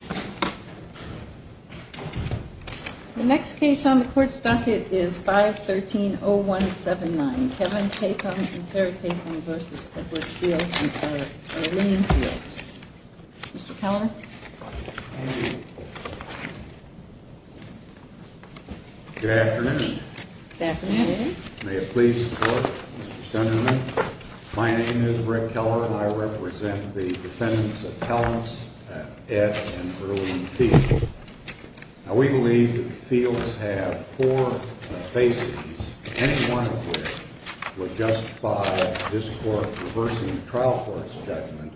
The next case on the court's docket is 513-0179, Kevin Tatham v. Edwards Field v. Arlene Fields. Mr. Keller. Good afternoon. Good afternoon. May it please the court. Mr. Stoneman, my name is Rick Keller, and I represent the defendants of Tellens, Ed, and Arlene Fields. Now, we believe that the Fields have four bases, any one of which would justify this court reversing the trial court's judgment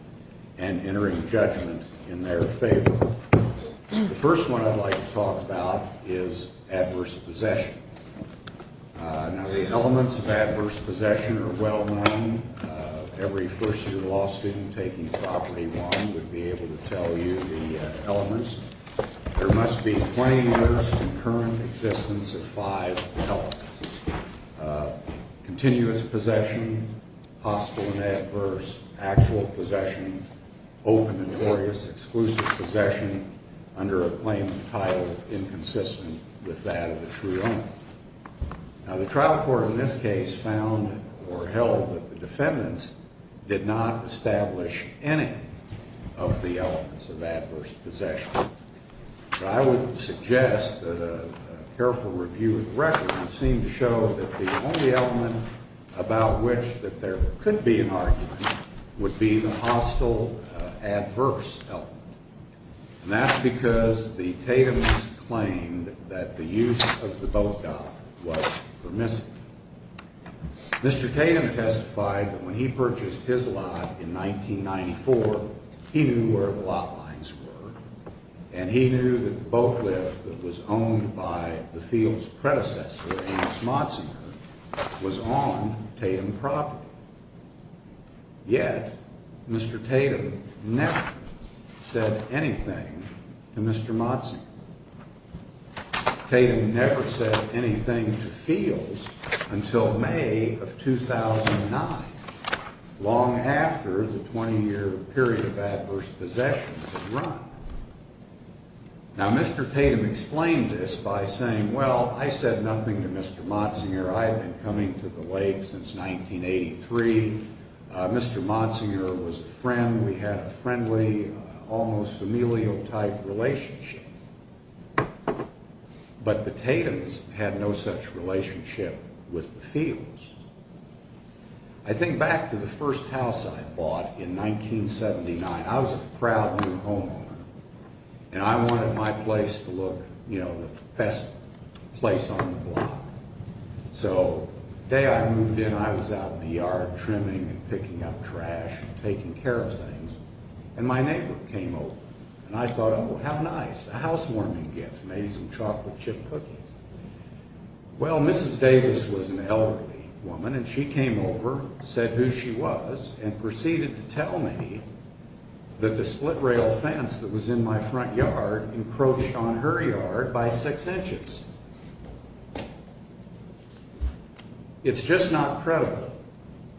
and entering judgment in their favor. The first one I'd like to talk about is adverse possession. Now, the elements of adverse possession are well known. Every first-year law student taking property one would be able to tell you the elements. There must be 20 years of concurrent existence of five elements. Continuous possession, hostile and adverse, actual possession, open and notorious, exclusive possession under a claim of title inconsistent with that of the true owner. Now, the trial court in this case found or held that the defendants did not establish any of the elements of adverse possession. I would suggest that a careful review of the record would seem to show that the only element about which that there could be an argument would be the hostile adverse element. And that's because the Tathams claimed that the use of the boat dock was permissible. Mr. Tatham testified that when he purchased his lot in 1994, he knew where the lot lines were. And he knew that the boat lift that was owned by the Fields predecessor, Amos Motzinger, was on Tatham property. Yet, Mr. Tatham never said anything to Mr. Motzinger. Tatham never said anything to Fields until May of 2009, long after the 20-year period of adverse possession had run. Now, Mr. Tatham explained this by saying, well, I said nothing to Mr. Motzinger. I had been coming to the lake since 1983. Mr. Motzinger was a friend. We had a friendly, almost familial-type relationship. But the Tathams had no such relationship with the Fields. I think back to the first house I bought in 1979. I was a proud new homeowner, and I wanted my place to look, you know, the best place on the block. So, the day I moved in, I was out in the yard trimming and picking up trash and taking care of things. And my neighbor came over. And I thought, oh, how nice. A housewarming gift. Maybe some chocolate chip cookies. Well, Mrs. Davis was an elderly woman, and she came over, said who she was, and proceeded to tell me that the split rail fence that was in my front yard encroached on her yard by six inches. It's just not credible,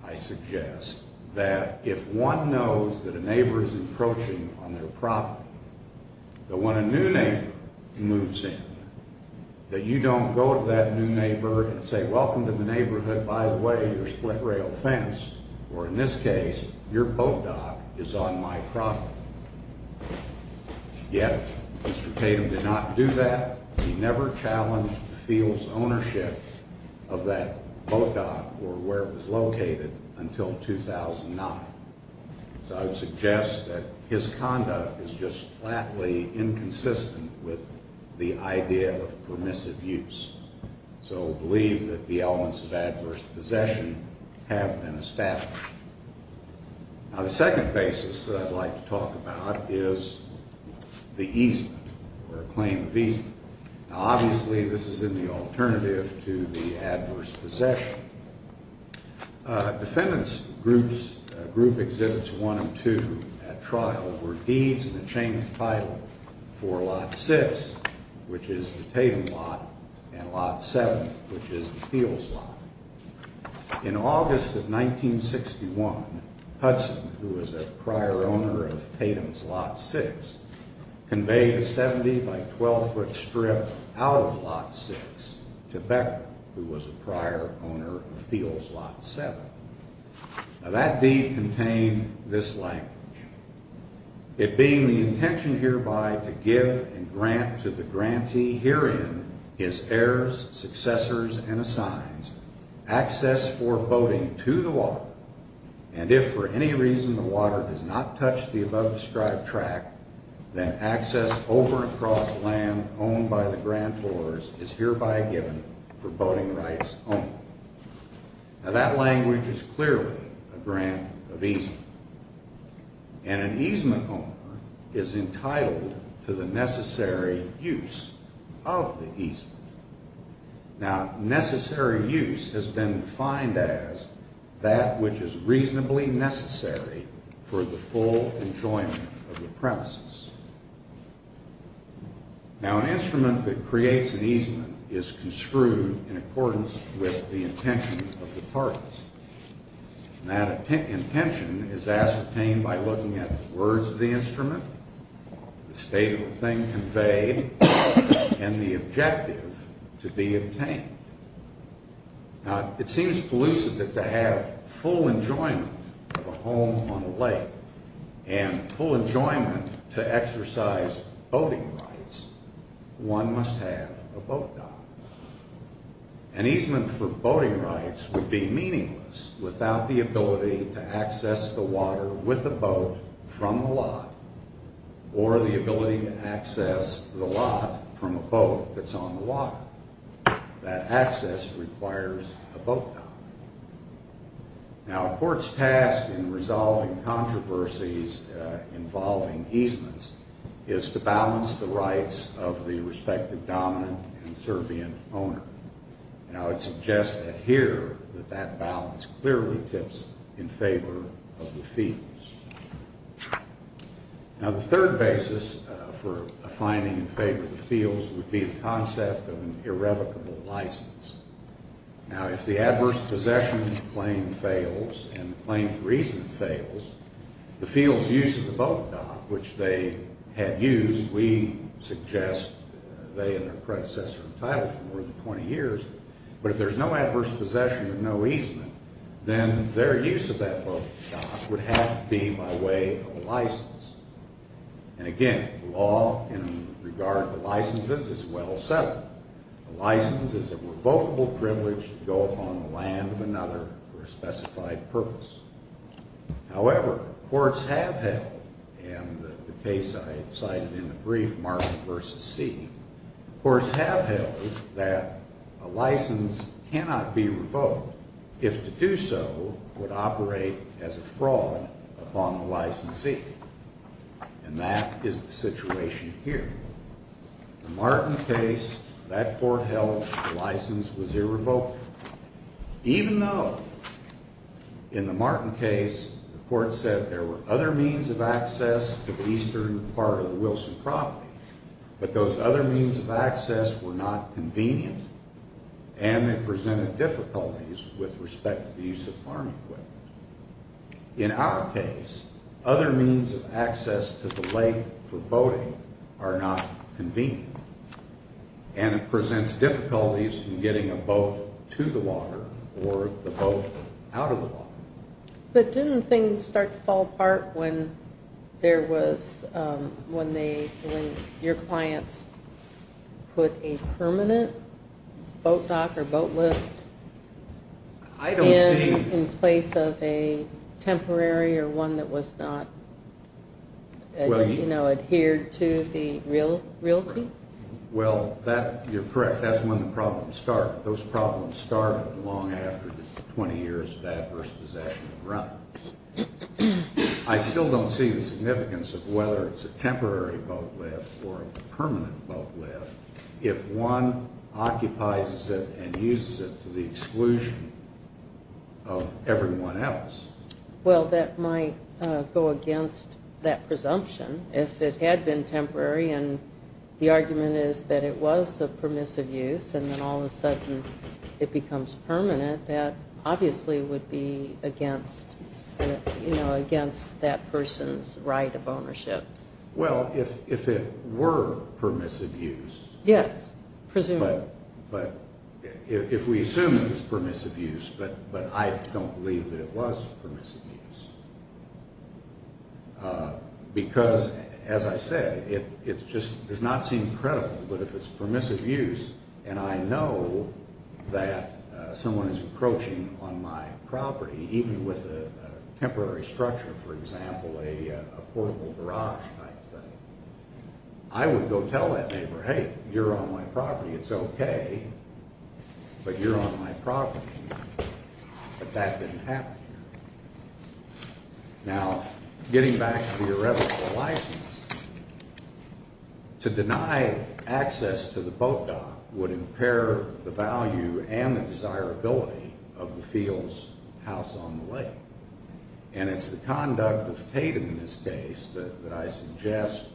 I suggest, that if one knows that a neighbor is encroaching on their property, that when a new neighbor moves in, that you don't go to that new neighbor and say, welcome to the neighborhood, by the way, your split rail fence, or in this case, your boat dock, is on my property. Yet, Mr. Tatham did not do that. He never challenged the field's ownership of that boat dock, or where it was located, until 2009. So, I would suggest that his conduct is just flatly inconsistent with the idea of permissive use. So, I believe that the elements of adverse possession have been established. Now, the second basis that I'd like to talk about is the easement, or a claim of easement. Now, obviously, this is in the alternative to the adverse possession. Defendants' group exhibits one and two at trial were deeds in the chain of title for lot six, which is the Tatham lot, and lot seven, which is the field's lot. In August of 1961, Hudson, who was a prior owner of Tatham's lot six, conveyed a 70-by-12-foot strip out of lot six to Becker, who was a prior owner of field's lot seven. Now, that deed contained this language, it being the intention hereby to give and grant to the grantee herein his heirs, successors, and assigns access for boating to the water, and if for any reason the water does not touch the above-described track, then access over and across land owned by the grantors is hereby given for boating rights only. Now, that language is clearly a grant of easement. And an easement owner is entitled to the necessary use of the easement. Now, necessary use has been defined as that which is reasonably necessary for the full enjoyment of the premises. Now, an instrument that creates an easement is construed in accordance with the intention of the parties. And that intention is as obtained by looking at the words of the instrument, the state of the thing conveyed, and the objective to be obtained. Now, it seems elusive that to have full enjoyment of a home on a lake and full enjoyment to exercise boating rights, one must have a boat dock. An easement for boating rights would be meaningless without the ability to access the water with a boat from the lot, or the ability to access the lot from a boat that's on the water. That access requires a boat dock. Now, a court's task in resolving controversies involving easements is to balance the rights of the And I would suggest that here that that balance clearly tips in favor of the fields. Now, the third basis for finding in favor of the fields would be the concept of an irrevocable license. Now, if the adverse possession claim fails and the claim for easement fails, the field's use of the boat dock, which they had used, we suggest they and their predecessor entitled for more than 20 years, but if there's no adverse possession or no easement, then their use of that boat dock would have to be by way of a license. And again, the law in regard to licenses is well settled. A license is a revocable privilege to go upon the land of another for a specified purpose. However, courts have held, and the case I cited in the brief, Martin v. Seeley, courts have held that a license cannot be revoked if to do so would operate as a fraud upon the licensee. And that is the situation here. The Martin case, that court held the license was irrevocable. Even though, in the Martin case, the court said there were other means of access to the eastern part of the Wilson property, but those other means of access were not convenient, and it presented difficulties with respect to the use of farm equipment. In our case, other means of access to the lake for boating are not convenient, and it presents difficulties in getting a boat to the water or the boat out of the water. But didn't things start to fall apart when your clients put a permanent boat dock or boat lift in place of a temporary or one that was not, you know, adhered to the realty? Well, you're correct. That's when the problems start. Those problems start long after 20 years of adverse possession and run. I still don't see the significance of whether it's a temporary boat lift or a permanent boat lift if one occupies it and uses it to the exclusion of everyone else. Well, that might go against that presumption. If it had been temporary, and the argument is that it was a permissive use, and then all of a sudden it becomes permanent, that obviously would be against, you know, against that person's right of ownership. Well, if it were permissive use. Yes, presumably. If we assume it was permissive use, but I don't believe that it was permissive use. Because, as I said, it just does not seem credible. But if it's permissive use, and I know that someone is approaching on my property, even with a temporary structure, for example, a portable garage type thing, I would go tell that neighbor, hey, you're on my property. It's okay, but you're on my property. But that didn't happen here. Now, getting back to the irrevocable license, to deny access to the boat dock would impair the value and the desirability of the field's house on the lake. And it's the conduct of Tatum in this case that I suggest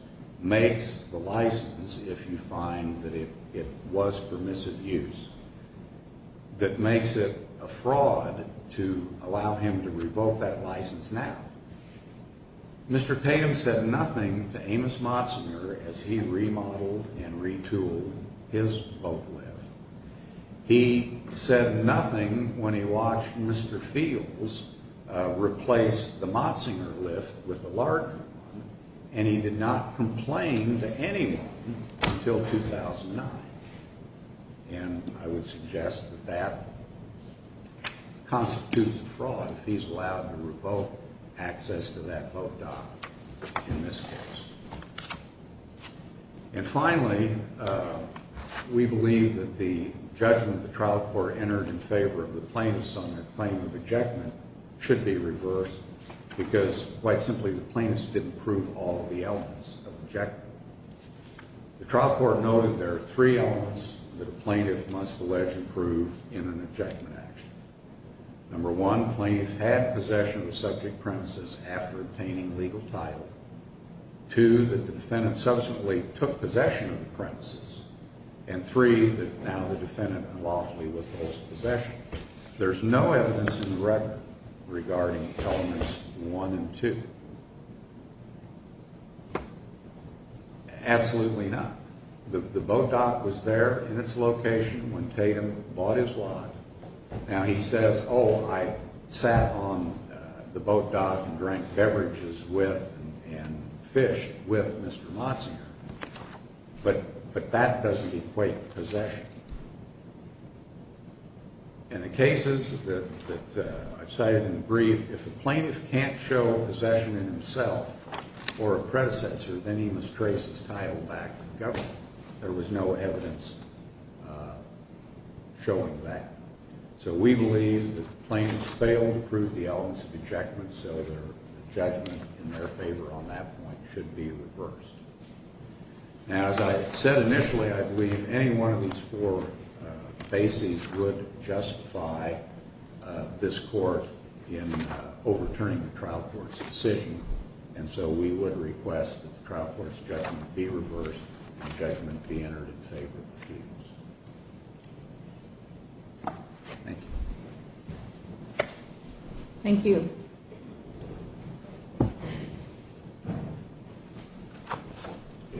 makes the license, if you find that it was permissive use, that makes it a fraud to allow him to revoke that license now. Mr. Tatum said nothing to Amos Motzinger as he remodeled and retooled his boat lift. He said nothing when he watched Mr. Fields replace the Motzinger lift with a larger one, and he did not complain to anyone until 2009. And I would suggest that that constitutes a fraud if he's allowed to revoke access to that boat dock in this case. And finally, we believe that the judgment the trial court entered in favor of the plaintiffs on their claim of ejectment should be reversed because, quite simply, the plaintiffs didn't prove all of the elements of ejectment. The trial court noted there are three elements that a plaintiff must allege and prove in an ejectment action. Number one, plaintiffs had possession of subject premises after obtaining legal title. Two, that the defendant subsequently took possession of the premises. And three, that now the defendant unlawfully withholds possession. There's no evidence in the record regarding elements one and two. Absolutely not. The boat dock was there in its location when Tatum bought his lot. Now he says, oh, I sat on the boat dock and drank beverages with and fished with Mr. Motzinger. But that doesn't equate to possession. In the cases that I've cited in the brief, if a plaintiff can't show possession in himself or a predecessor, then he must trace his title back to the government. There was no evidence showing that. So we believe that the plaintiffs failed to prove the elements of ejectment, so the judgment in their favor on that point should be reversed. Now, as I said initially, I believe any one of these four bases would justify this court in overturning the trial court's decision. And so we would request that the trial court's judgment be reversed and judgment be entered in favor of the defense. Thank you. Thank you.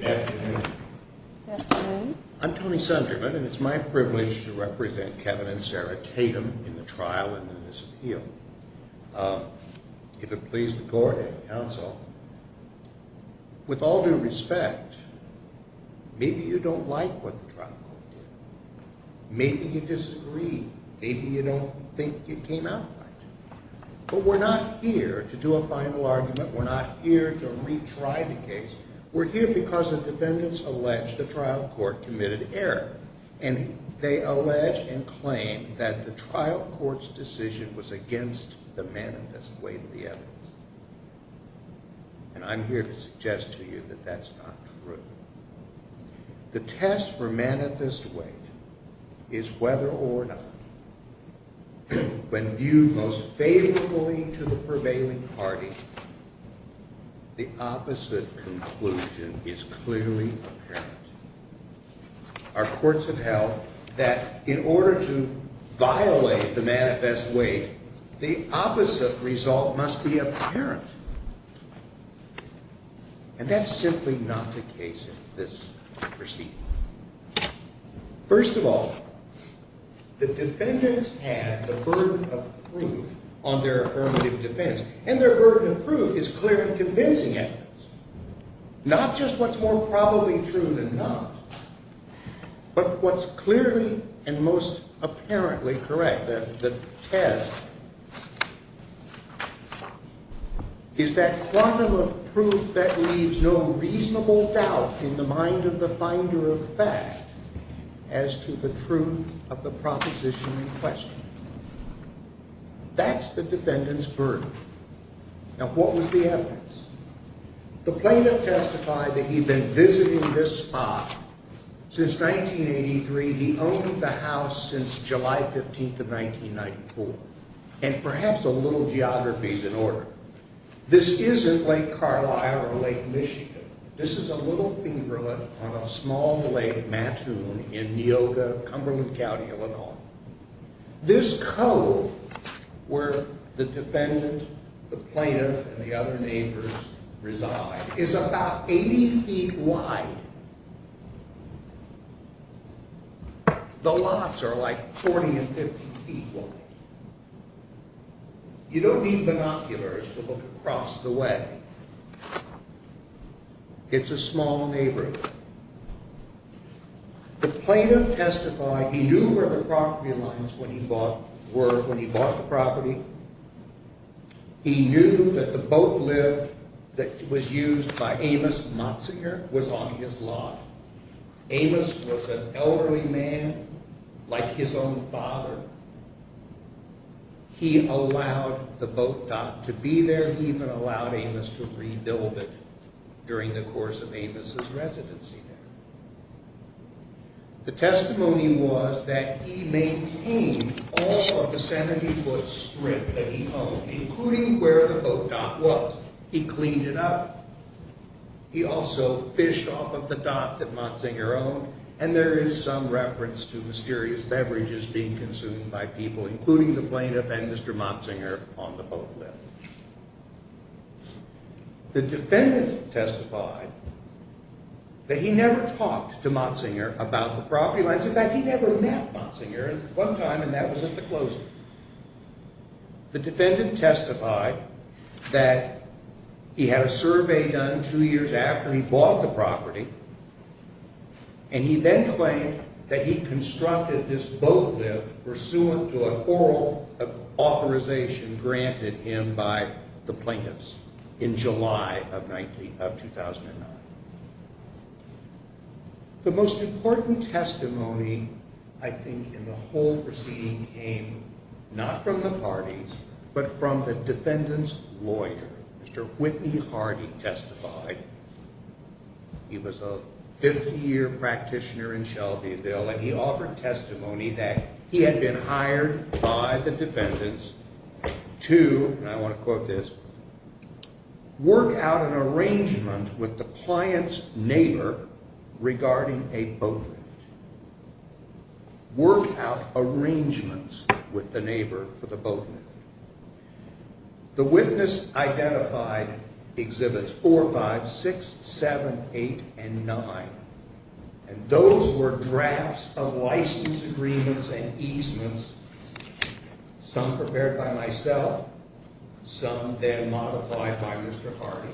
Good afternoon. Good afternoon. I'm Tony Sunderman, and it's my privilege to represent Kevin and Sarah Tatum in the trial and in this appeal. If it pleases the court and the counsel, with all due respect, maybe you don't like what the trial court did. Maybe you disagree. Maybe you don't think it came out right. But we're not here to do a final argument. We're not here to retry the case. We're here because the defendants allege the trial court committed error, and they allege and claim that the trial court's decision was against the manifest weight of the evidence. And I'm here to suggest to you that that's not true. The test for manifest weight is whether or not, when viewed most faithfully to the prevailing party, the opposite conclusion is clearly apparent. Our courts have held that in order to violate the manifest weight, the opposite result must be apparent. And that's simply not the case in this proceeding. First of all, the defendants had the burden of proof on their affirmative defense, and their burden of proof is clearly convincing evidence. Not just what's more probably true than not, but what's clearly and most apparently correct, the test, is that quantum of proof that leaves no reasonable doubt in the mind of the finder of fact as to the truth of the proposition in question. That's the defendants' burden. Now, what was the evidence? The plaintiff testified that he'd been visiting this spot since 1983. He owned the house since July 15th of 1994. And perhaps a little geography's in order. This isn't Lake Carlisle or Lake Michigan. This is a little fingerlet on a small lake, Mattoon, in Neoga, Cumberland County, Illinois. This cove where the defendant, the plaintiff, and the other neighbors reside is about 80 feet wide. The lots are like 40 and 50 feet wide. You don't need binoculars to look across the way. It's a small neighborhood. The plaintiff testified he knew where the property lines were when he bought the property. He knew that the boat lift that was used by Amos Matsinger was on his lot. Amos was an elderly man like his own father. He allowed the boat dock to be there. He even allowed Amos to rebuild it during the course of Amos' residency there. The testimony was that he maintained all of the 70-foot strip that he owned, including where the boat dock was. He cleaned it up. He also fished off of the dock that Matsinger owned. And there is some reference to mysterious beverages being consumed by people, including the plaintiff and Mr. Matsinger, on the boat lift. The defendant testified that he never talked to Matsinger about the property lines. In fact, he never met Matsinger at one time, and that was at the closing. The defendant testified that he had a survey done two years after he bought the property. And he then claimed that he constructed this boat lift pursuant to an oral authorization granted him by the plaintiffs in July of 2009. The most important testimony, I think, in the whole proceeding came not from the parties, but from the defendant's lawyer. Mr. Whitney Hardy testified. He was a 50-year practitioner in Shelbyville, and he offered testimony that he had been hired by the defendants to, and I want to quote this, work out an arrangement with the client's neighbor regarding a boat lift. Work out arrangements with the neighbor for the boat lift. The witness identified Exhibits 4, 5, 6, 7, 8, and 9. And those were drafts of license agreements and easements, some prepared by myself, some then modified by Mr. Hardy.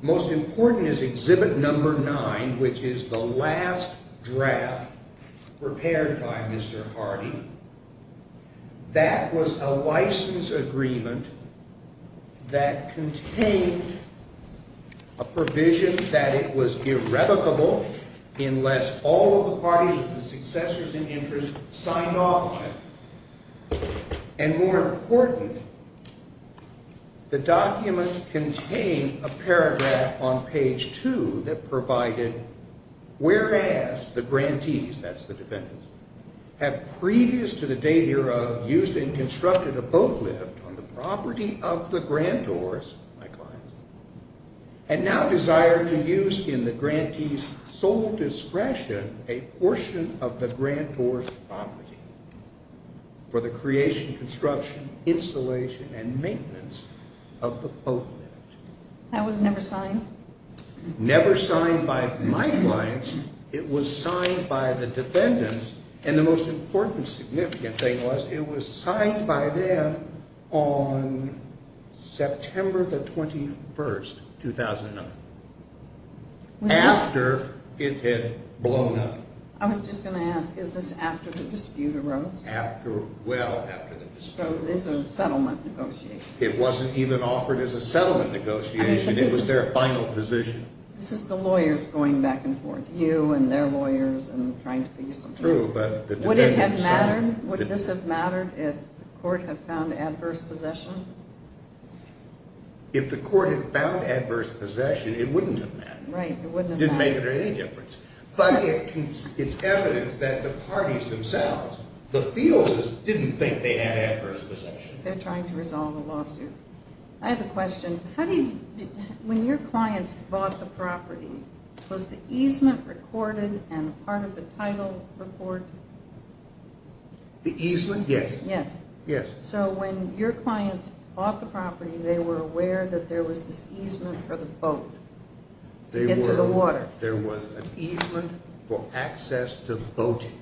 Most important is Exhibit 9, which is the last draft prepared by Mr. Hardy. That was a license agreement that contained a provision that it was irrevocable unless all of the parties of the successors in interest signed off on it. And more important, the document contained a paragraph on page 2 that provided, whereas the grantees, that's the defendants, have previous to the day hereof used and constructed a boat lift on the property of the grantors, my client, and now desire to use in the grantees' sole discretion a portion of the grantors' property. For the creation, construction, installation, and maintenance of the boat lift. That was never signed? Never signed by my clients. It was signed by the defendants. And the most important significant thing was it was signed by them on September the 21st, 2009. After it had blown up. I was just going to ask, is this after the dispute arose? Well, after the dispute arose. So this is a settlement negotiation. It wasn't even offered as a settlement negotiation. It was their final position. This is the lawyers going back and forth, you and their lawyers, and trying to figure something out. True, but the defendants signed. Would this have mattered if the court had found adverse possession? If the court had found adverse possession, it wouldn't have mattered. Right, it wouldn't have mattered. But it's evidence that the parties themselves, the fielders, didn't think they had adverse possession. They're trying to resolve the lawsuit. I have a question. When your clients bought the property, was the easement recorded and part of the title report? The easement? Yes. So when your clients bought the property, they were aware that there was this easement for the boat. To get to the water. There was an easement for access to boating.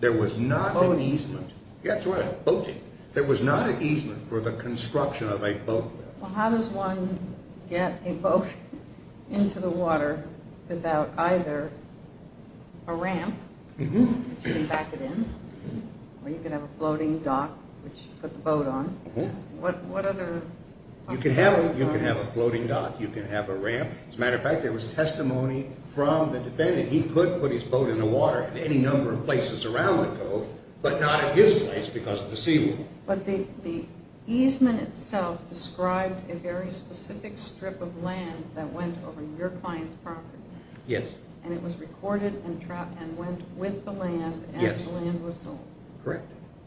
There was not an easement. Boating? That's right, boating. There was not an easement for the construction of a boat. Well, how does one get a boat into the water without either a ramp, which you can back it in, or you can have a floating dock, which you put the boat on? You can have a floating dock. You can have a ramp. That's right. There was testimony from the defendant. He could put his boat in the water in any number of places around the cove, but not at his place because of the seawall. But the easement itself described a very specific strip of land that went over your client's property. Yes. And it was recorded and went with the land as the land was sold.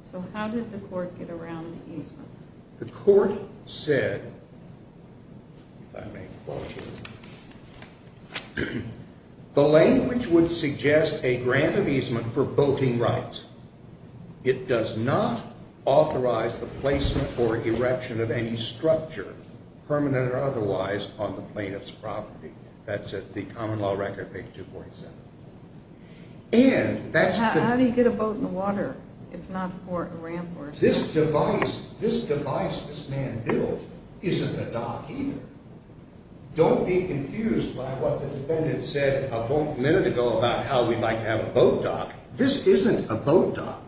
So how did the court get around the easement? The court said, if I may quote you, the language would suggest a grant of easement for boating rights. It does not authorize the placement or erection of any structure, permanent or otherwise, on the plaintiff's property. That's at the common law record page 247. How do you get a boat in the water if not for a ramp? This device, this device this man built, isn't a dock either. Don't be confused by what the defendant said a minute ago about how we'd like to have a boat dock. This isn't a boat dock.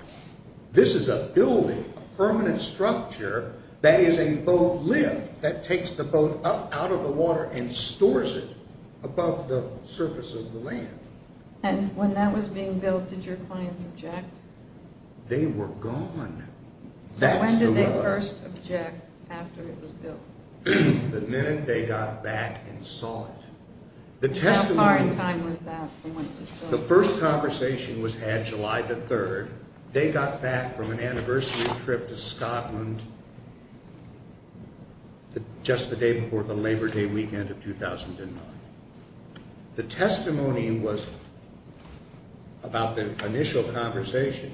This is a building, a permanent structure that is a boat lift that takes the boat up out of the water and stores it above the surface of the land. And when that was being built, did your clients object? They were gone. So when did they first object after it was built? The minute they got back and saw it. How far in time was that? The first conversation was had July the 3rd. They got back from an anniversary trip to Scotland just the day before the Labor Day weekend of 2009. The testimony about the initial conversation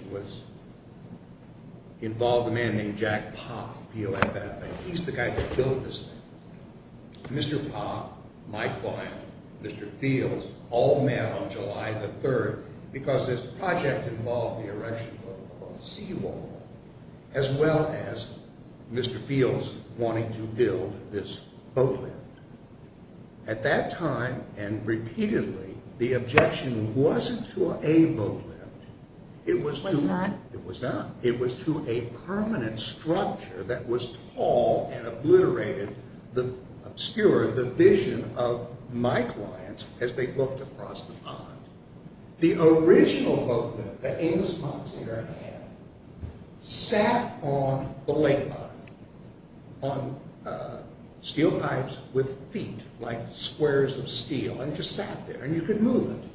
involved a man named Jack Poth, P-O-F-F. He's the guy that built this thing. Mr. Poth, my client, Mr. Fields, all met on July the 3rd because this project involved the erection of a seawall as well as Mr. Fields wanting to build this boat lift. At that time, and repeatedly, the objection wasn't to a boat lift. It was to a permanent structure that was tall and obliterated, obscured the vision of my clients as they looked across the pond. The original boat lift that Amos Monster had sat on the lake bottom on steel pipes with feet like squares of steel and just sat there and you could move it.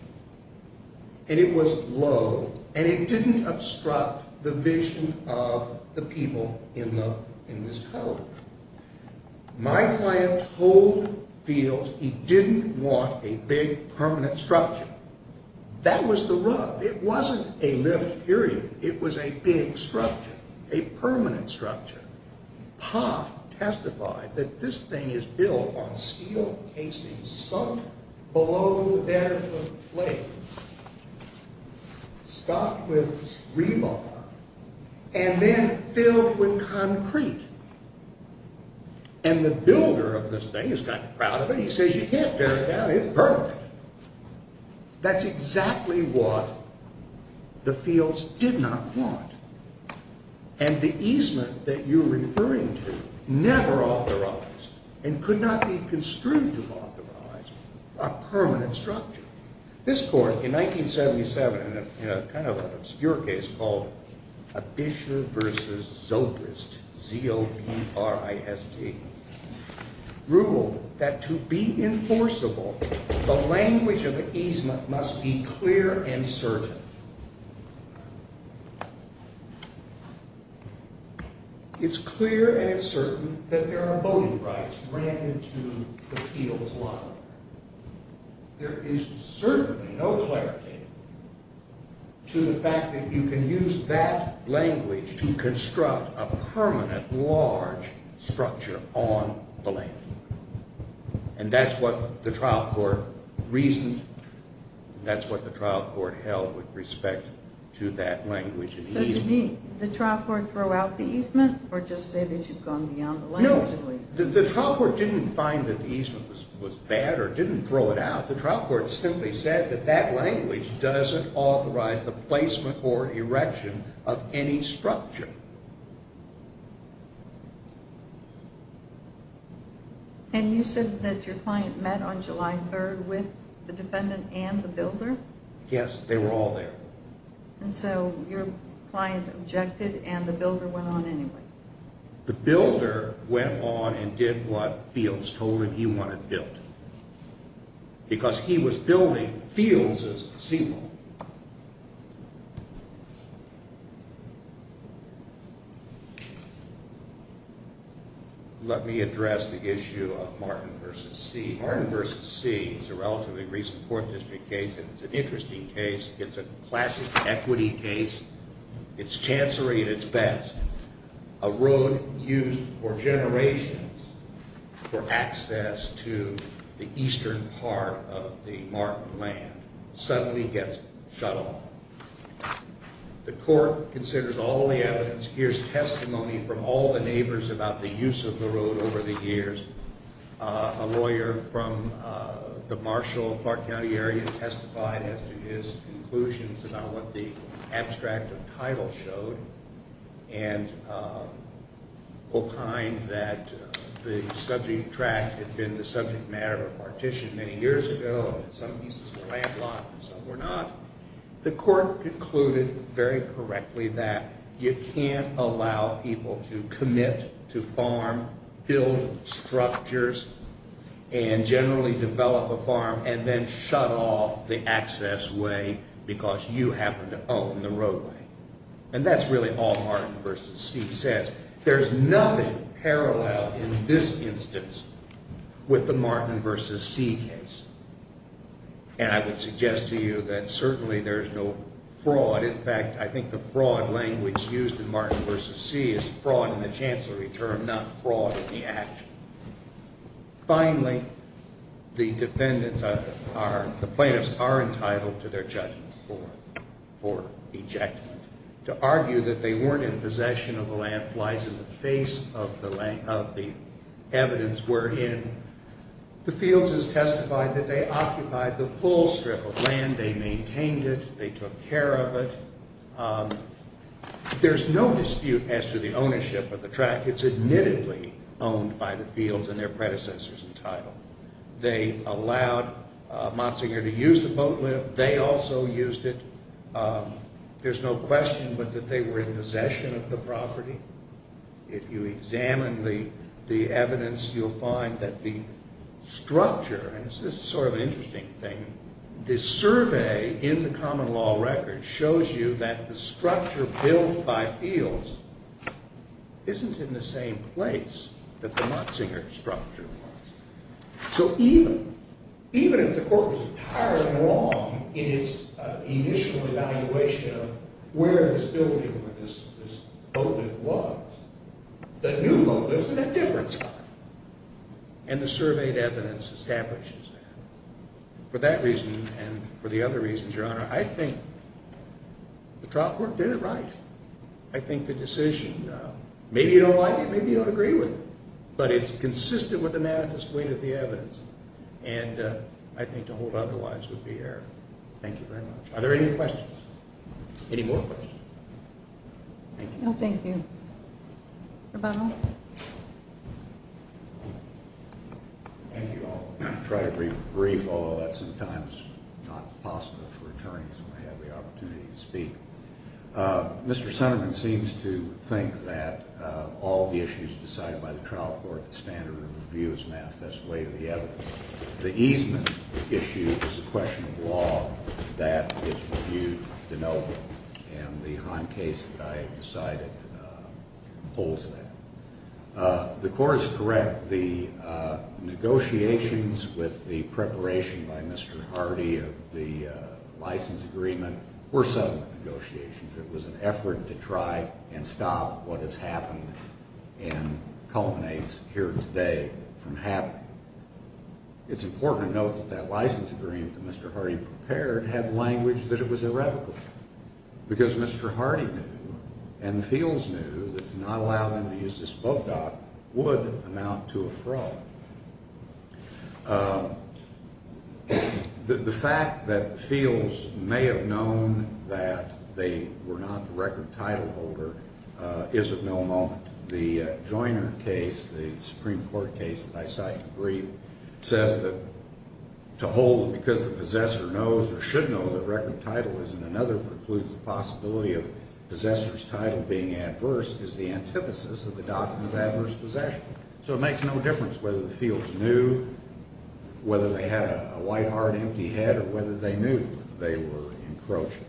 And it was low and it didn't obstruct the vision of the people in this pond. My client told Fields he didn't want a big permanent structure. That was the rub. It wasn't a lift period. It was a big structure, a permanent structure. Poth testified that this thing is built on steel casing sunk below the bed of the lake, stuffed with rebar, and then filled with concrete. And the builder of this thing is kind of proud of it. He says you can't tear it down. It's permanent. That's exactly what the Fields did not want. And the easement that you're referring to never authorized and could not be construed to authorize a permanent structure. This court, in 1977, in a kind of obscure case called Abisher v. Zogrist, Z-O-P-R-I-S-T, ruled that to be enforceable, the language of the easement must be clear and certain. It's clear and it's certain that there are voting rights granted to the Fields law. There is certainly no clarity to the fact that you can use that language to construct a permanent large structure on the lake. And that's what the trial court reasoned. That's what the trial court held with respect to that language. So to me, did the trial court throw out the easement or just say that you've gone beyond the language of the easement? The trial court didn't find that the easement was bad or didn't throw it out. The trial court simply said that that language doesn't authorize the placement or erection of any structure. And you said that your client met on July 3rd with the defendant and the builder? Yes, they were all there. And so your client objected and the builder went on anyway? The builder went on and did what Fields told him he wanted built. Because he was building Fields' seawall. Let me address the issue of Martin v. See. Martin v. See is a relatively recent court district case and it's an interesting case. It's a classic equity case. It's chancery at its best. A road used for generations for access to the eastern part of the Martin land suddenly gets shut off. The court considers all the evidence. Here's testimony from all the neighbors about the use of the road over the years. A lawyer from the Marshall and Clark County area testified as to his conclusions about what the abstract of title showed. And opined that the subject tract had been the subject matter of a partition many years ago. Some pieces were landlocked and some were not. The court concluded very correctly that you can't allow people to commit to farm, build structures, and generally develop a farm and then shut off the access way because you happen to own the roadway. And that's really all Martin v. See says. There's nothing parallel in this instance with the Martin v. See case. And I would suggest to you that certainly there's no fraud. In fact, I think the fraud language used in Martin v. See is fraud in the chancery term, not fraud in the action. Finally, the plaintiffs are entitled to their judgment for ejectment. To argue that they weren't in possession of the land flies in the face of the evidence we're in. The fields has testified that they occupied the full strip of land, they maintained it, they took care of it. There's no dispute as to the ownership of the tract. It's admittedly owned by the fields and their predecessors entitled. They allowed Motzinger to use the boat lift. They also used it. There's no question but that they were in possession of the property. If you examine the evidence, you'll find that the structure, and this is sort of an interesting thing, this survey in the common law record shows you that the structure built by fields isn't in the same place that the Motzinger structure was. So even if the court was entirely wrong in its initial evaluation of where this building or this boat lift was, the new boat lift is in a different spot. And the surveyed evidence establishes that. For that reason and for the other reasons, Your Honor, I think the trial court did it right. I think the decision, maybe you don't like it, maybe you don't agree with it, but it's consistent with the manifest weight of the evidence. And I think to hold otherwise would be error. Thank you very much. Are there any questions? Any more questions? No, thank you. Rebuttal. Thank you all. I'll try to be brief, although that's sometimes not possible for attorneys when they have the opportunity to speak. Mr. Sunderman seems to think that all the issues decided by the trial court, the standard of review, is manifest weight of the evidence. The easement issue is a question of law. That is reviewed to no vote. And the Hahn case that I decided holds that. The court is correct. The negotiations with the preparation by Mr. Hardy of the license agreement were settlement negotiations. It was an effort to try and stop what has happened and culminates here today from happening. It's important to note that that license agreement that Mr. Hardy prepared had language that it was irrevocable. Because Mr. Hardy knew and the Fields knew that to not allow them to use this boat dock would amount to a fraud. The fact that the Fields may have known that they were not the record title holder is of no moment. The Joiner case, the Supreme Court case that I cite in brief, says that to hold it because the possessor knows or should know that record title is in another precludes the possibility of possessor's title being adverse is the antithesis of the document of adverse possession. So it makes no difference whether the Fields knew, whether they had a white heart, empty head, or whether they knew that they were encroaching.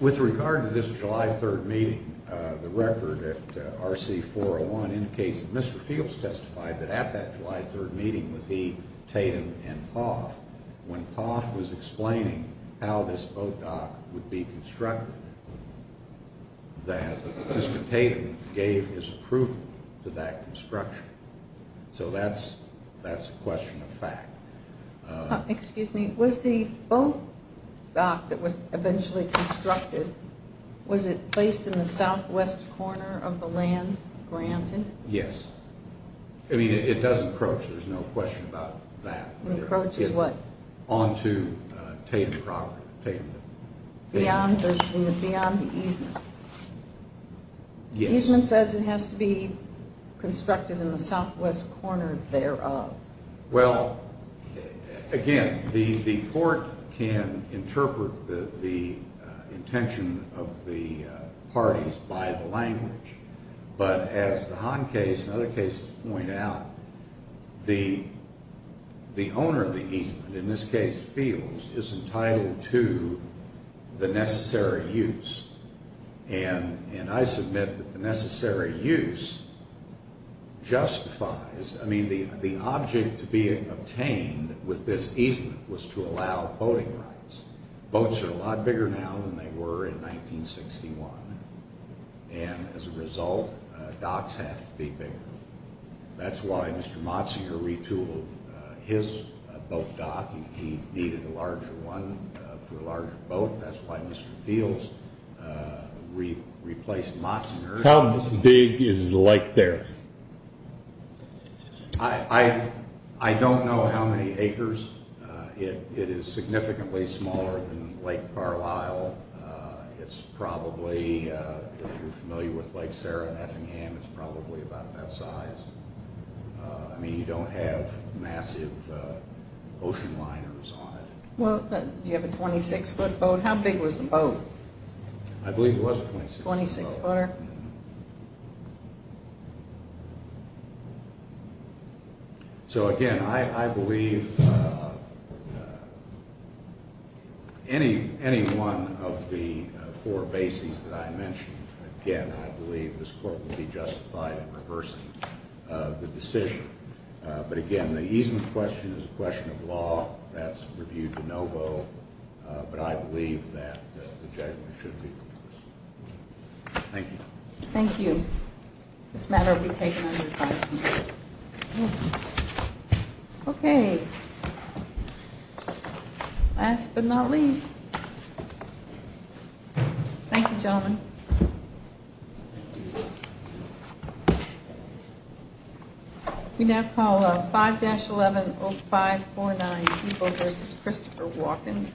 With regard to this July 3rd meeting, the record at RC 401 indicates that Mr. Fields testified that at that July 3rd meeting with he, Tatum, and Poff, when Poff was explaining how this boat dock would be constructed, that Mr. Tatum gave his approval to that construction. So that's a question of fact. Excuse me. Was the boat dock that was eventually constructed, was it placed in the southwest corner of the land granted? Yes. I mean, it does encroach. There's no question about that. It encroaches what? Onto Tatum property. Beyond the easement? Yes. The easement says it has to be constructed in the southwest corner thereof. Well, again, the court can interpret the intention of the parties by the language. But as the Hahn case and other cases point out, the owner of the easement, in this case Fields, is entitled to the necessary use. And I submit that the necessary use justifies, I mean, the object to being obtained with this easement was to allow boating rights. Boats are a lot bigger now than they were in 1961. And as a result, docks have to be bigger. That's why Mr. Motzinger retooled his boat dock. He needed a larger one for a larger boat. That's why Mr. Fields replaced Motzinger. How big is the lake there? I don't know how many acres. It is significantly smaller than Lake Carlisle. It's probably, if you're familiar with Lake Sarah and Effingham, it's probably about that size. I mean, you don't have massive ocean liners on it. Do you have a 26-foot boat? How big was the boat? I believe it was a 26-foot boat. A 26-footer? So, again, I believe any one of the four bases that I mentioned, again, I believe this court will be justified in reversing the decision. But, again, the easement question is a question of law. That's reviewed de novo. But I believe that the judgment should be reversed. Thank you. Thank you. This matter will be taken under the Constitution. Okay. Last but not least. Thank you, gentlemen. Thank you. We now call 5-110549, Ivo v. Christopher Watkins.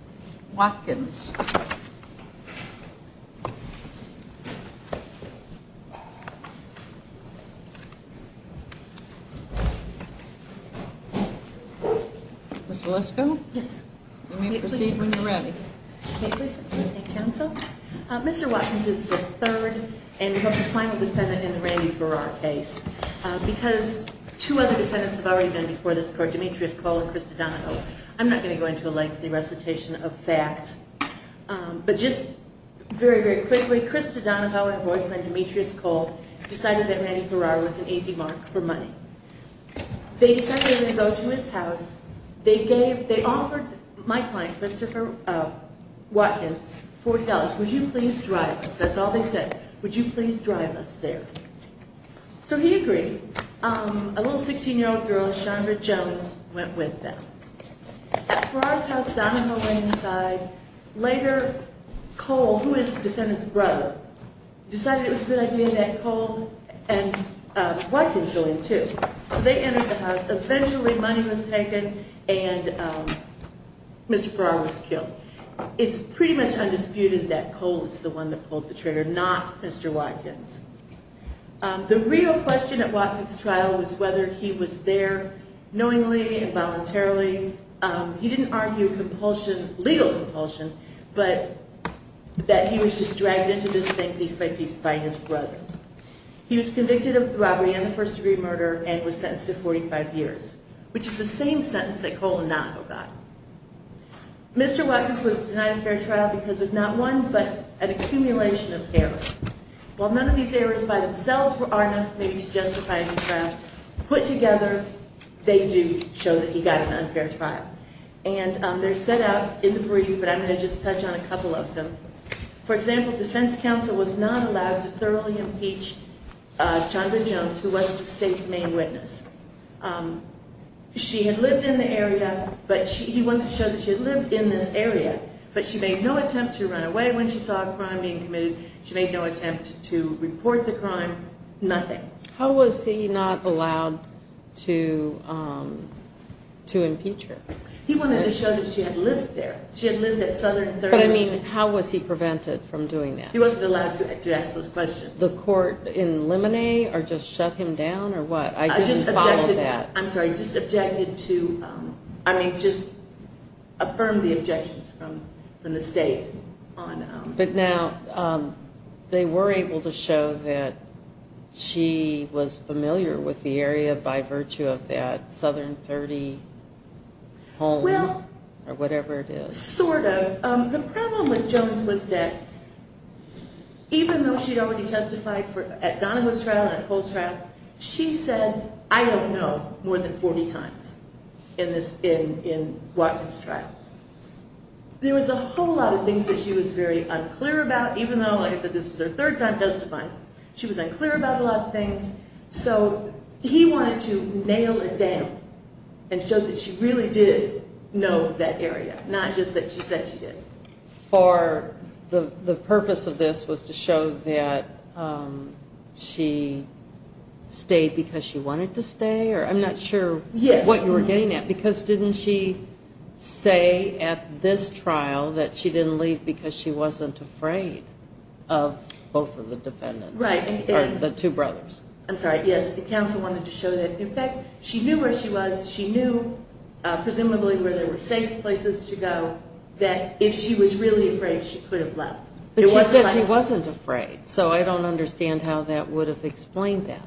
Ms. Lisko? Yes. You may proceed when you're ready. Okay. Counsel? Mr. Watkins is the third and the final defendant in the Randy Farrar case. Because two other defendants have already been before this court, Demetrius Cole and Chris DiDonago. I'm not going to go into a lengthy recitation of facts. But just very, very quickly, Chris DiDonago and boyfriend Demetrius Cole decided that Randy Farrar was an easy mark for money. They decided to go to his house. They offered my client, Christopher Watkins, $40. Would you please drive us? That's all they said. Would you please drive us there? So he agreed. A little 16-year-old girl, Chandra Jones, went with them. At Farrar's house down on the Lane side, later, Cole, who is the defendant's brother, decided it was a good idea that Cole and Watkins go in, too. So they entered the house. Eventually, money was taken, and Mr. Farrar was killed. It's pretty much undisputed that Cole is the one that pulled the trigger, not Mr. Watkins. The real question at Watkins' trial was whether he was there knowingly and voluntarily. He didn't argue legal compulsion, but that he was just dragged into this thing piece by piece by his brother. He was convicted of robbery and the first-degree murder and was sentenced to 45 years, which is the same sentence that Cole and Notko got. Mr. Watkins was denied a fair trial because of not one but an accumulation of errors. While none of these errors by themselves are enough maybe to justify his trial, put together, they do show that he got an unfair trial. And they're set out in the brief, and I'm going to just touch on a couple of them. For example, defense counsel was not allowed to thoroughly impeach Chandra Jones, who was the state's main witness. She had lived in the area, but he wanted to show that she had lived in this area. But she made no attempt to run away when she saw a crime being committed. She made no attempt to report the crime, nothing. How was he not allowed to impeach her? He wanted to show that she had lived there. But, I mean, how was he prevented from doing that? He wasn't allowed to ask those questions. The court in Limine or just shut him down or what? I didn't follow that. I'm sorry, just objected to, I mean, just affirmed the objections from the state. But now they were able to show that she was familiar with the area by virtue of that Southern 30 home or whatever it is. Sort of. The problem with Jones was that even though she had already testified at Donahoe's trial and at Cole's trial, she said, I don't know, more than 40 times in Watkins' trial. There was a whole lot of things that she was very unclear about, even though, like I said, this was her third time testifying. She was unclear about a lot of things. So he wanted to nail it down and show that she really did know that area, not just that she said she did. For the purpose of this was to show that she stayed because she wanted to stay? Or I'm not sure what you were getting at. Because didn't she say at this trial that she didn't leave because she wasn't afraid of both of the defendants? Right. The two brothers. I'm sorry. Yes. The counsel wanted to show that, in fact, she knew where she was. She knew, presumably, where there were safe places to go, that if she was really afraid, she could have left. But she said she wasn't afraid. So I don't understand how that would have explained that.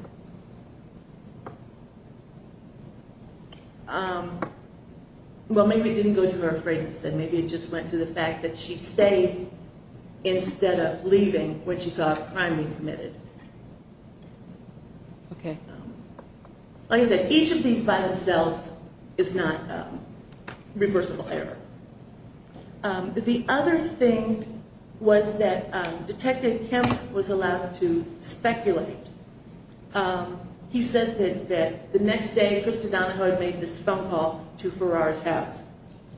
Well, maybe it didn't go to her afraidness. And maybe it just went to the fact that she stayed instead of leaving when she saw a crime being committed. Okay. Like I said, each of these by themselves is not reversible error. The other thing was that Detective Kemp was allowed to speculate. He said that the next day Krista Donahoe made this phone call to Farrar's house.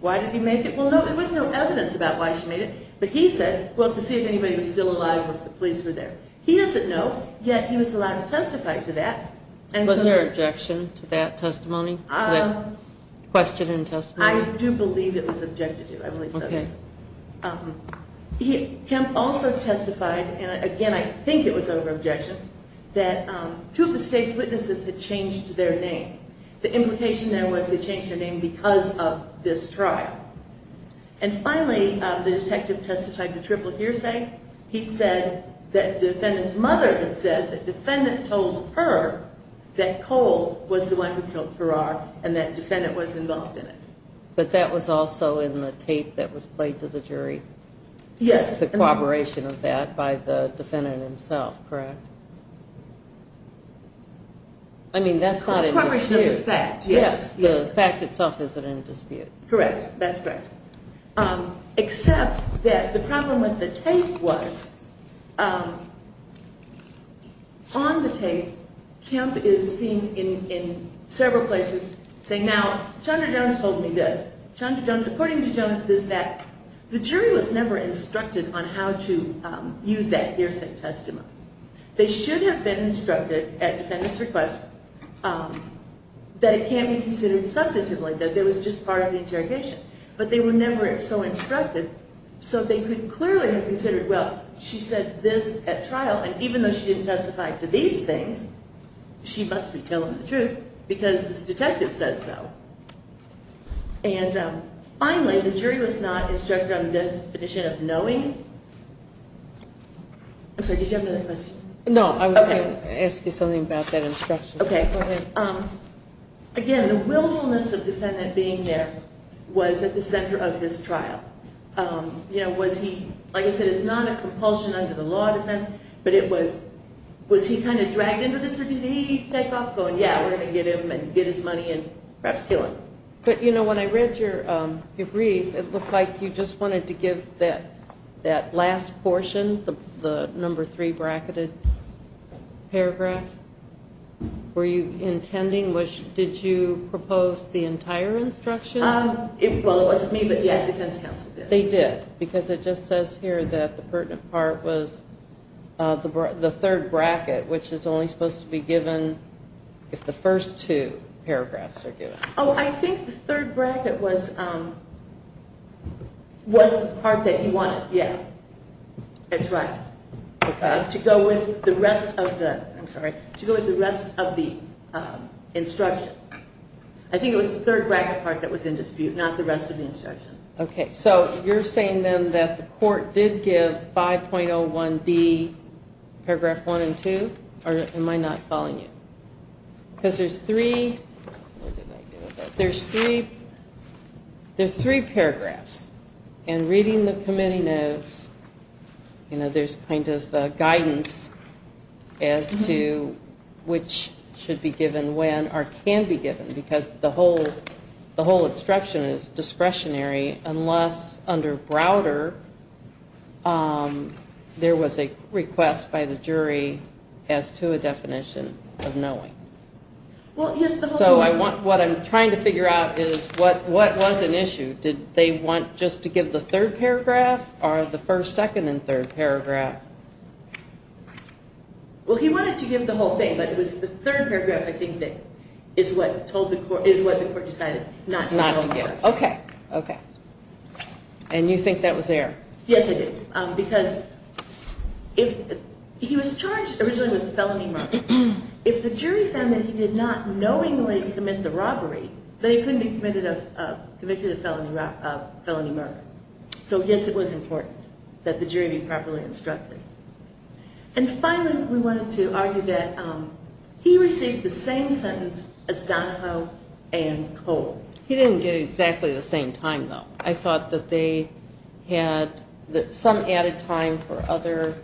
Why did he make it? Well, no, there was no evidence about why she made it. But he said, well, to see if anybody was still alive or if the police were there. He doesn't know, yet he was allowed to testify to that. Was there objection to that testimony, that question and testimony? I do believe it was objected to. I believe so, yes. Okay. Kemp also testified, and again, I think it was over objection, that two of the state's witnesses had changed their name. The implication there was they changed their name because of this trial. And finally, the detective testified to triple hearsay. He said that defendant's mother had said that defendant told her that Cole was the one who killed Farrar and that defendant was involved in it. But that was also in the tape that was played to the jury? Yes. The corroboration of that by the defendant himself, correct? I mean, that's not in dispute. Incorporation of the fact, yes. The fact itself isn't in dispute. Correct. That's correct. Except that the problem with the tape was on the tape, Kemp is seen in several places saying, now, Chandra Jones told me this. Chandra Jones, according to Jones, is that the jury was never instructed on how to use that hearsay testimony. They should have been instructed at defendant's request that it can't be considered substantively, that it was just part of the interrogation. But they were never so instructed, so they could clearly have considered, well, she said this at trial, and even though she didn't testify to these things, she must be telling the truth because this detective says so. And finally, the jury was not instructed on the definition of knowing. I'm sorry, did you have another question? No, I was going to ask you something about that instruction. Okay. Go ahead. Again, the willfulness of the defendant being there was at the center of his trial. You know, was he, like I said, it's not a compulsion under the law defense, but it was, was he kind of dragged into this? Did he take off going, yeah, we're going to get him and get his money and perhaps kill him? But, you know, when I read your brief, it looked like you just wanted to give that last portion, the number three bracketed paragraph. Were you intending, did you propose the entire instruction? Well, it wasn't me, but, yeah, defense counsel did. They did, because it just says here that the pertinent part was the third bracket, which is only supposed to be given if the first two paragraphs are given. Oh, I think the third bracket was, was the part that you wanted, yeah. That's right. Okay. To go with the rest of the, I'm sorry, to go with the rest of the instruction. I think it was the third bracket part that was in dispute, not the rest of the instruction. Okay. So you're saying then that the court did give 5.01B paragraph one and two? Or am I not following you? Because there's three, there's three, there's three paragraphs. And reading the committee notes, you know, there's kind of guidance as to which should be given when or can be given, because the whole instruction is discretionary unless under Browder there was a request by the jury as to a definition of knowing. So I want, what I'm trying to figure out is what, what was an issue? Did they want just to give the third paragraph or the first, second, and third paragraph? Well, he wanted to give the whole thing, but it was the third paragraph I think that is what told the court, is what the court decided not to give. Not to give. Okay. Okay. And you think that was there? Yes, I do. Because if, he was charged originally with felony murder. If the jury found that he did not knowingly commit the robbery, then he couldn't be convicted of felony murder. So yes, it was important that the jury be properly instructed. And finally, we wanted to argue that he received the same sentence as Donahoe and Cole. He didn't get exactly the same time, though. I thought that they had some added time for other,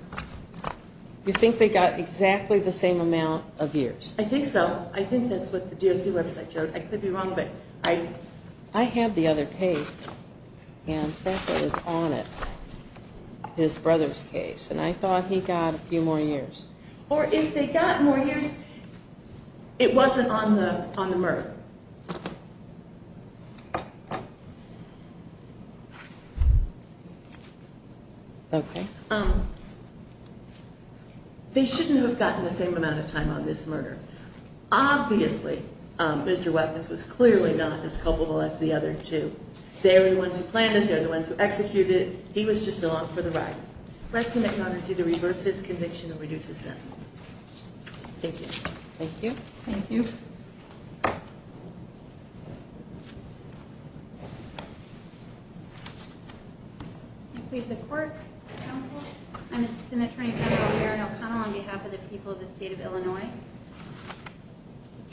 you think they got exactly the same amount of years? I think so. I think that's what the DOC website showed. I could be wrong, but I, I have the other case, and Franco is on it, his brother's case. And I thought he got a few more years. Or if they got more years, it wasn't on the, on the Murph. Okay. They shouldn't have gotten the same amount of time on this murder. Obviously, Mr. Weckens was clearly not as culpable as the other two. They were the ones who planned it, they were the ones who executed it. He was just along for the ride. The rest of the congress either reverse his conviction or reduce his sentence. Thank you. Thank you. Thank you. Thank you. I plead the court, counsel. I'm Assistant Attorney General Erin O'Connell on behalf of the people of the state of Illinois.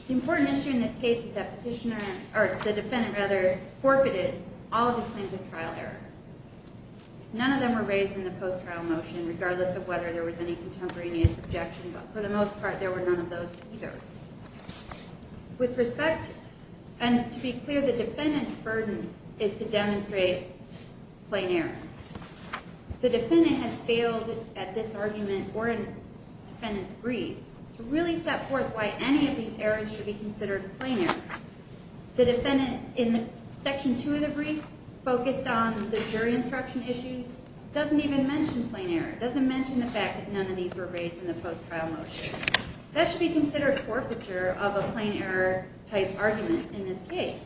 The important issue in this case is that petitioner, or the defendant, rather, forfeited all of his claims of trial error. None of them were raised in the post-trial motion, regardless of whether there was any contemporaneous objection. But for the most part, there were none of those either. With respect, and to be clear, the defendant's burden is to demonstrate plain error. The defendant has failed at this argument or in defendant's brief to really set forth why any of these errors should be considered plain error. The defendant, in Section 2 of the brief, focused on the jury instruction issue, doesn't even mention plain error. Doesn't mention the fact that none of these were raised in the post-trial motion. That should be considered forfeiture of a plain error type argument in this case.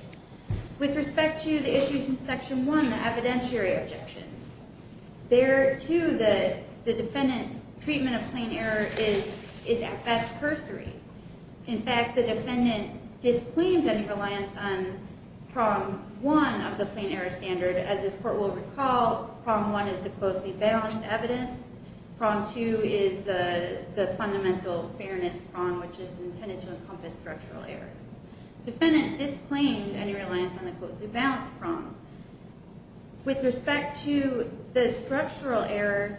With respect to the issues in Section 1, the evidentiary objections, there, too, the defendant's treatment of plain error is at best cursory. In fact, the defendant disclaimed any reliance on Problem 1 of the plain error standard. As this court will recall, Problem 1 is the closely balanced evidence. Problem 2 is the fundamental fairness problem, which is intended to encompass structural errors. Defendant disclaimed any reliance on the closely balanced problem. With respect to the structural error,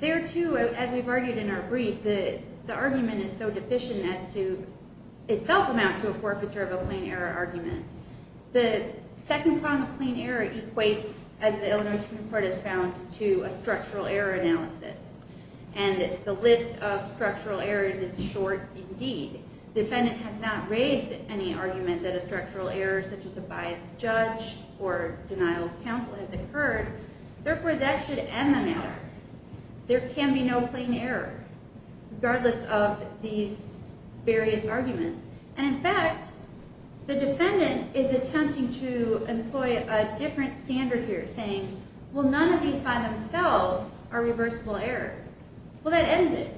there, too, as we've argued in our brief, the argument is so deficient as to itself amount to a forfeiture of a plain error argument. The second form of plain error equates, as the Illinois Supreme Court has found, to a structural error analysis. And the list of structural errors is short indeed. The defendant has not raised any argument that a structural error such as a biased judge or denial of counsel has occurred. Therefore, that should end the matter. There can be no plain error, regardless of these various arguments. And, in fact, the defendant is attempting to employ a different standard here, saying, well, none of these by themselves are reversible error. Well, that ends it,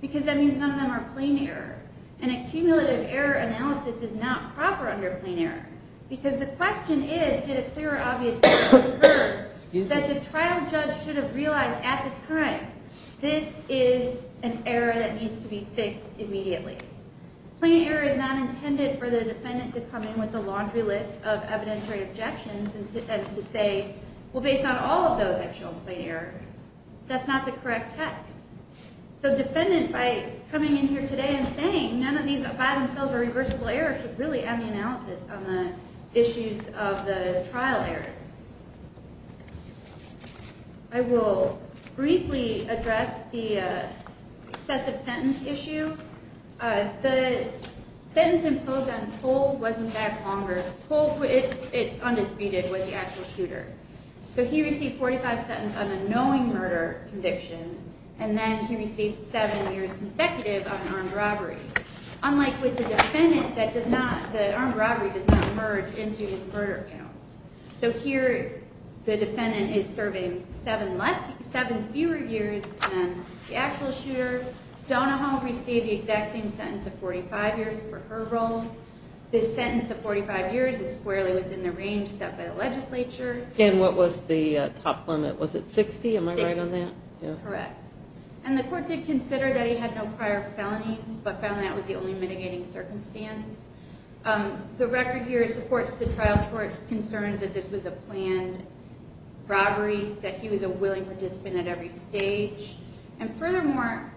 because that means none of them are plain error. And a cumulative error analysis is not proper under plain error. Because the question is, did a clear or obvious error occur that the trial judge should have realized at the time, this is an error that needs to be fixed immediately? Plain error is not intended for the defendant to come in with a laundry list of evidentiary objections and to say, well, based on all of those, I've shown plain error. That's not the correct test. So the defendant, by coming in here today and saying, none of these by themselves are reversible errors, should really end the analysis on the issues of the trial errors. I will briefly address the excessive sentence issue. The sentence imposed on Toll wasn't back longer. Toll, it's undisputed, was the actual shooter. So he received 45 sentences on a knowing murder conviction. And then he received seven years consecutive of an armed robbery. Unlike with the defendant, the armed robbery does not merge into his murder count. So here, the defendant is serving seven fewer years than the actual shooter. Donahoe received the exact same sentence of 45 years for her role. This sentence of 45 years is squarely within the range set by the legislature. And what was the top limit? Was it 60? Am I right on that? Correct. And the court did consider that he had no prior felonies, but found that was the only mitigating circumstance. The record here supports the trial court's concerns that this was a planned robbery, that he was a willing participant at every stage. And furthermore,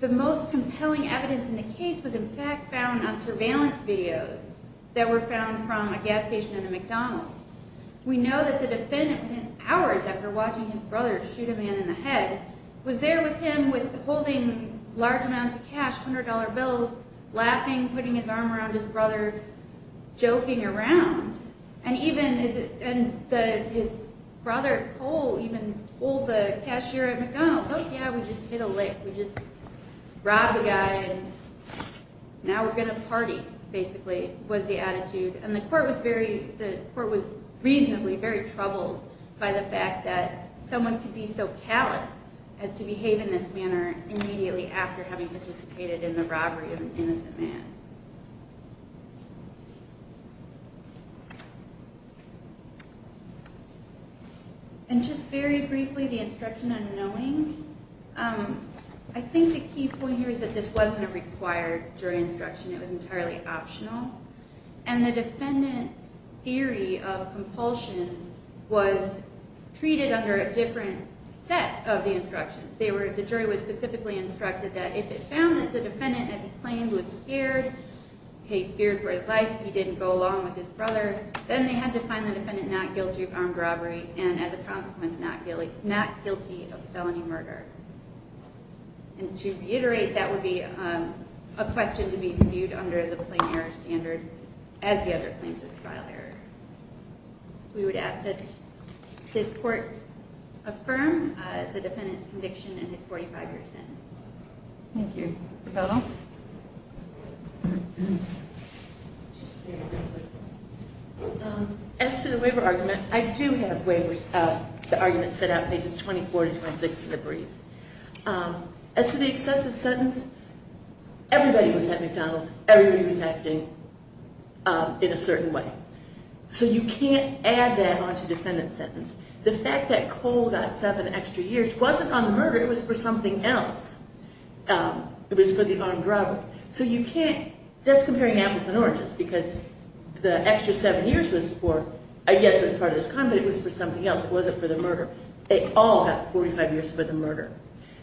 the most compelling evidence in the case was in fact found on surveillance videos that were found from a gas station and a McDonald's. We know that the defendant, within hours after watching his brother shoot a man in the head, was there with him holding large amounts of cash, $100 bills, laughing, putting his arm around his brother, joking around. And his brother, Cole, even pulled the cashier at McDonald's. Oh, yeah, we just hit a lick. We just robbed a guy, and now we're going to party, basically, was the attitude. And the court was reasonably very troubled by the fact that someone could be so callous as to behave in this manner immediately after having participated in the robbery of an innocent man. And just very briefly, the instruction on knowing. I think the key point here is that this wasn't a required jury instruction. It was entirely optional. And the defendant's theory of compulsion was treated under a different set of the instructions. The jury was specifically instructed that if it found that the defendant, as he claimed, was scared, paid fear for his life, he didn't go along with his brother, then they had to find the defendant not guilty of armed robbery and, as a consequence, not guilty of felony murder. And to reiterate, that would be a question to be viewed under the plain error standard as the other claims of trial error. We would ask that this court affirm the defendant's conviction and his 45-year sentence. Thank you. Ravelo? As to the waiver argument, I do have the argument set out in pages 24 and 26 of the brief. As to the excessive sentence, everybody was at McDonald's. Everybody was acting in a certain way. So you can't add that onto defendant's sentence. The fact that Cole got seven extra years wasn't on the murder. It was for something else. It was for the armed robbery. So you can't – that's comparing apples and oranges because the extra seven years was for – I guess it was part of his crime, but it was for something else. It wasn't for the murder. They all got 45 years for the murder.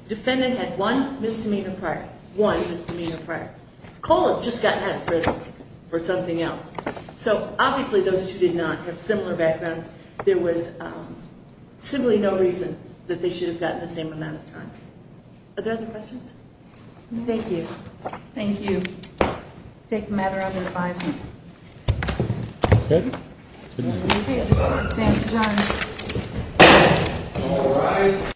Defendant had one misdemeanor prior. One misdemeanor prior. Cole had just gotten out of prison for something else. So obviously those two did not have similar backgrounds. There was simply no reason that they should have gotten the same amount of time. Are there other questions? Thank you. Thank you. I take the matter under advisement. That's good. Good night. This court stands adjourned.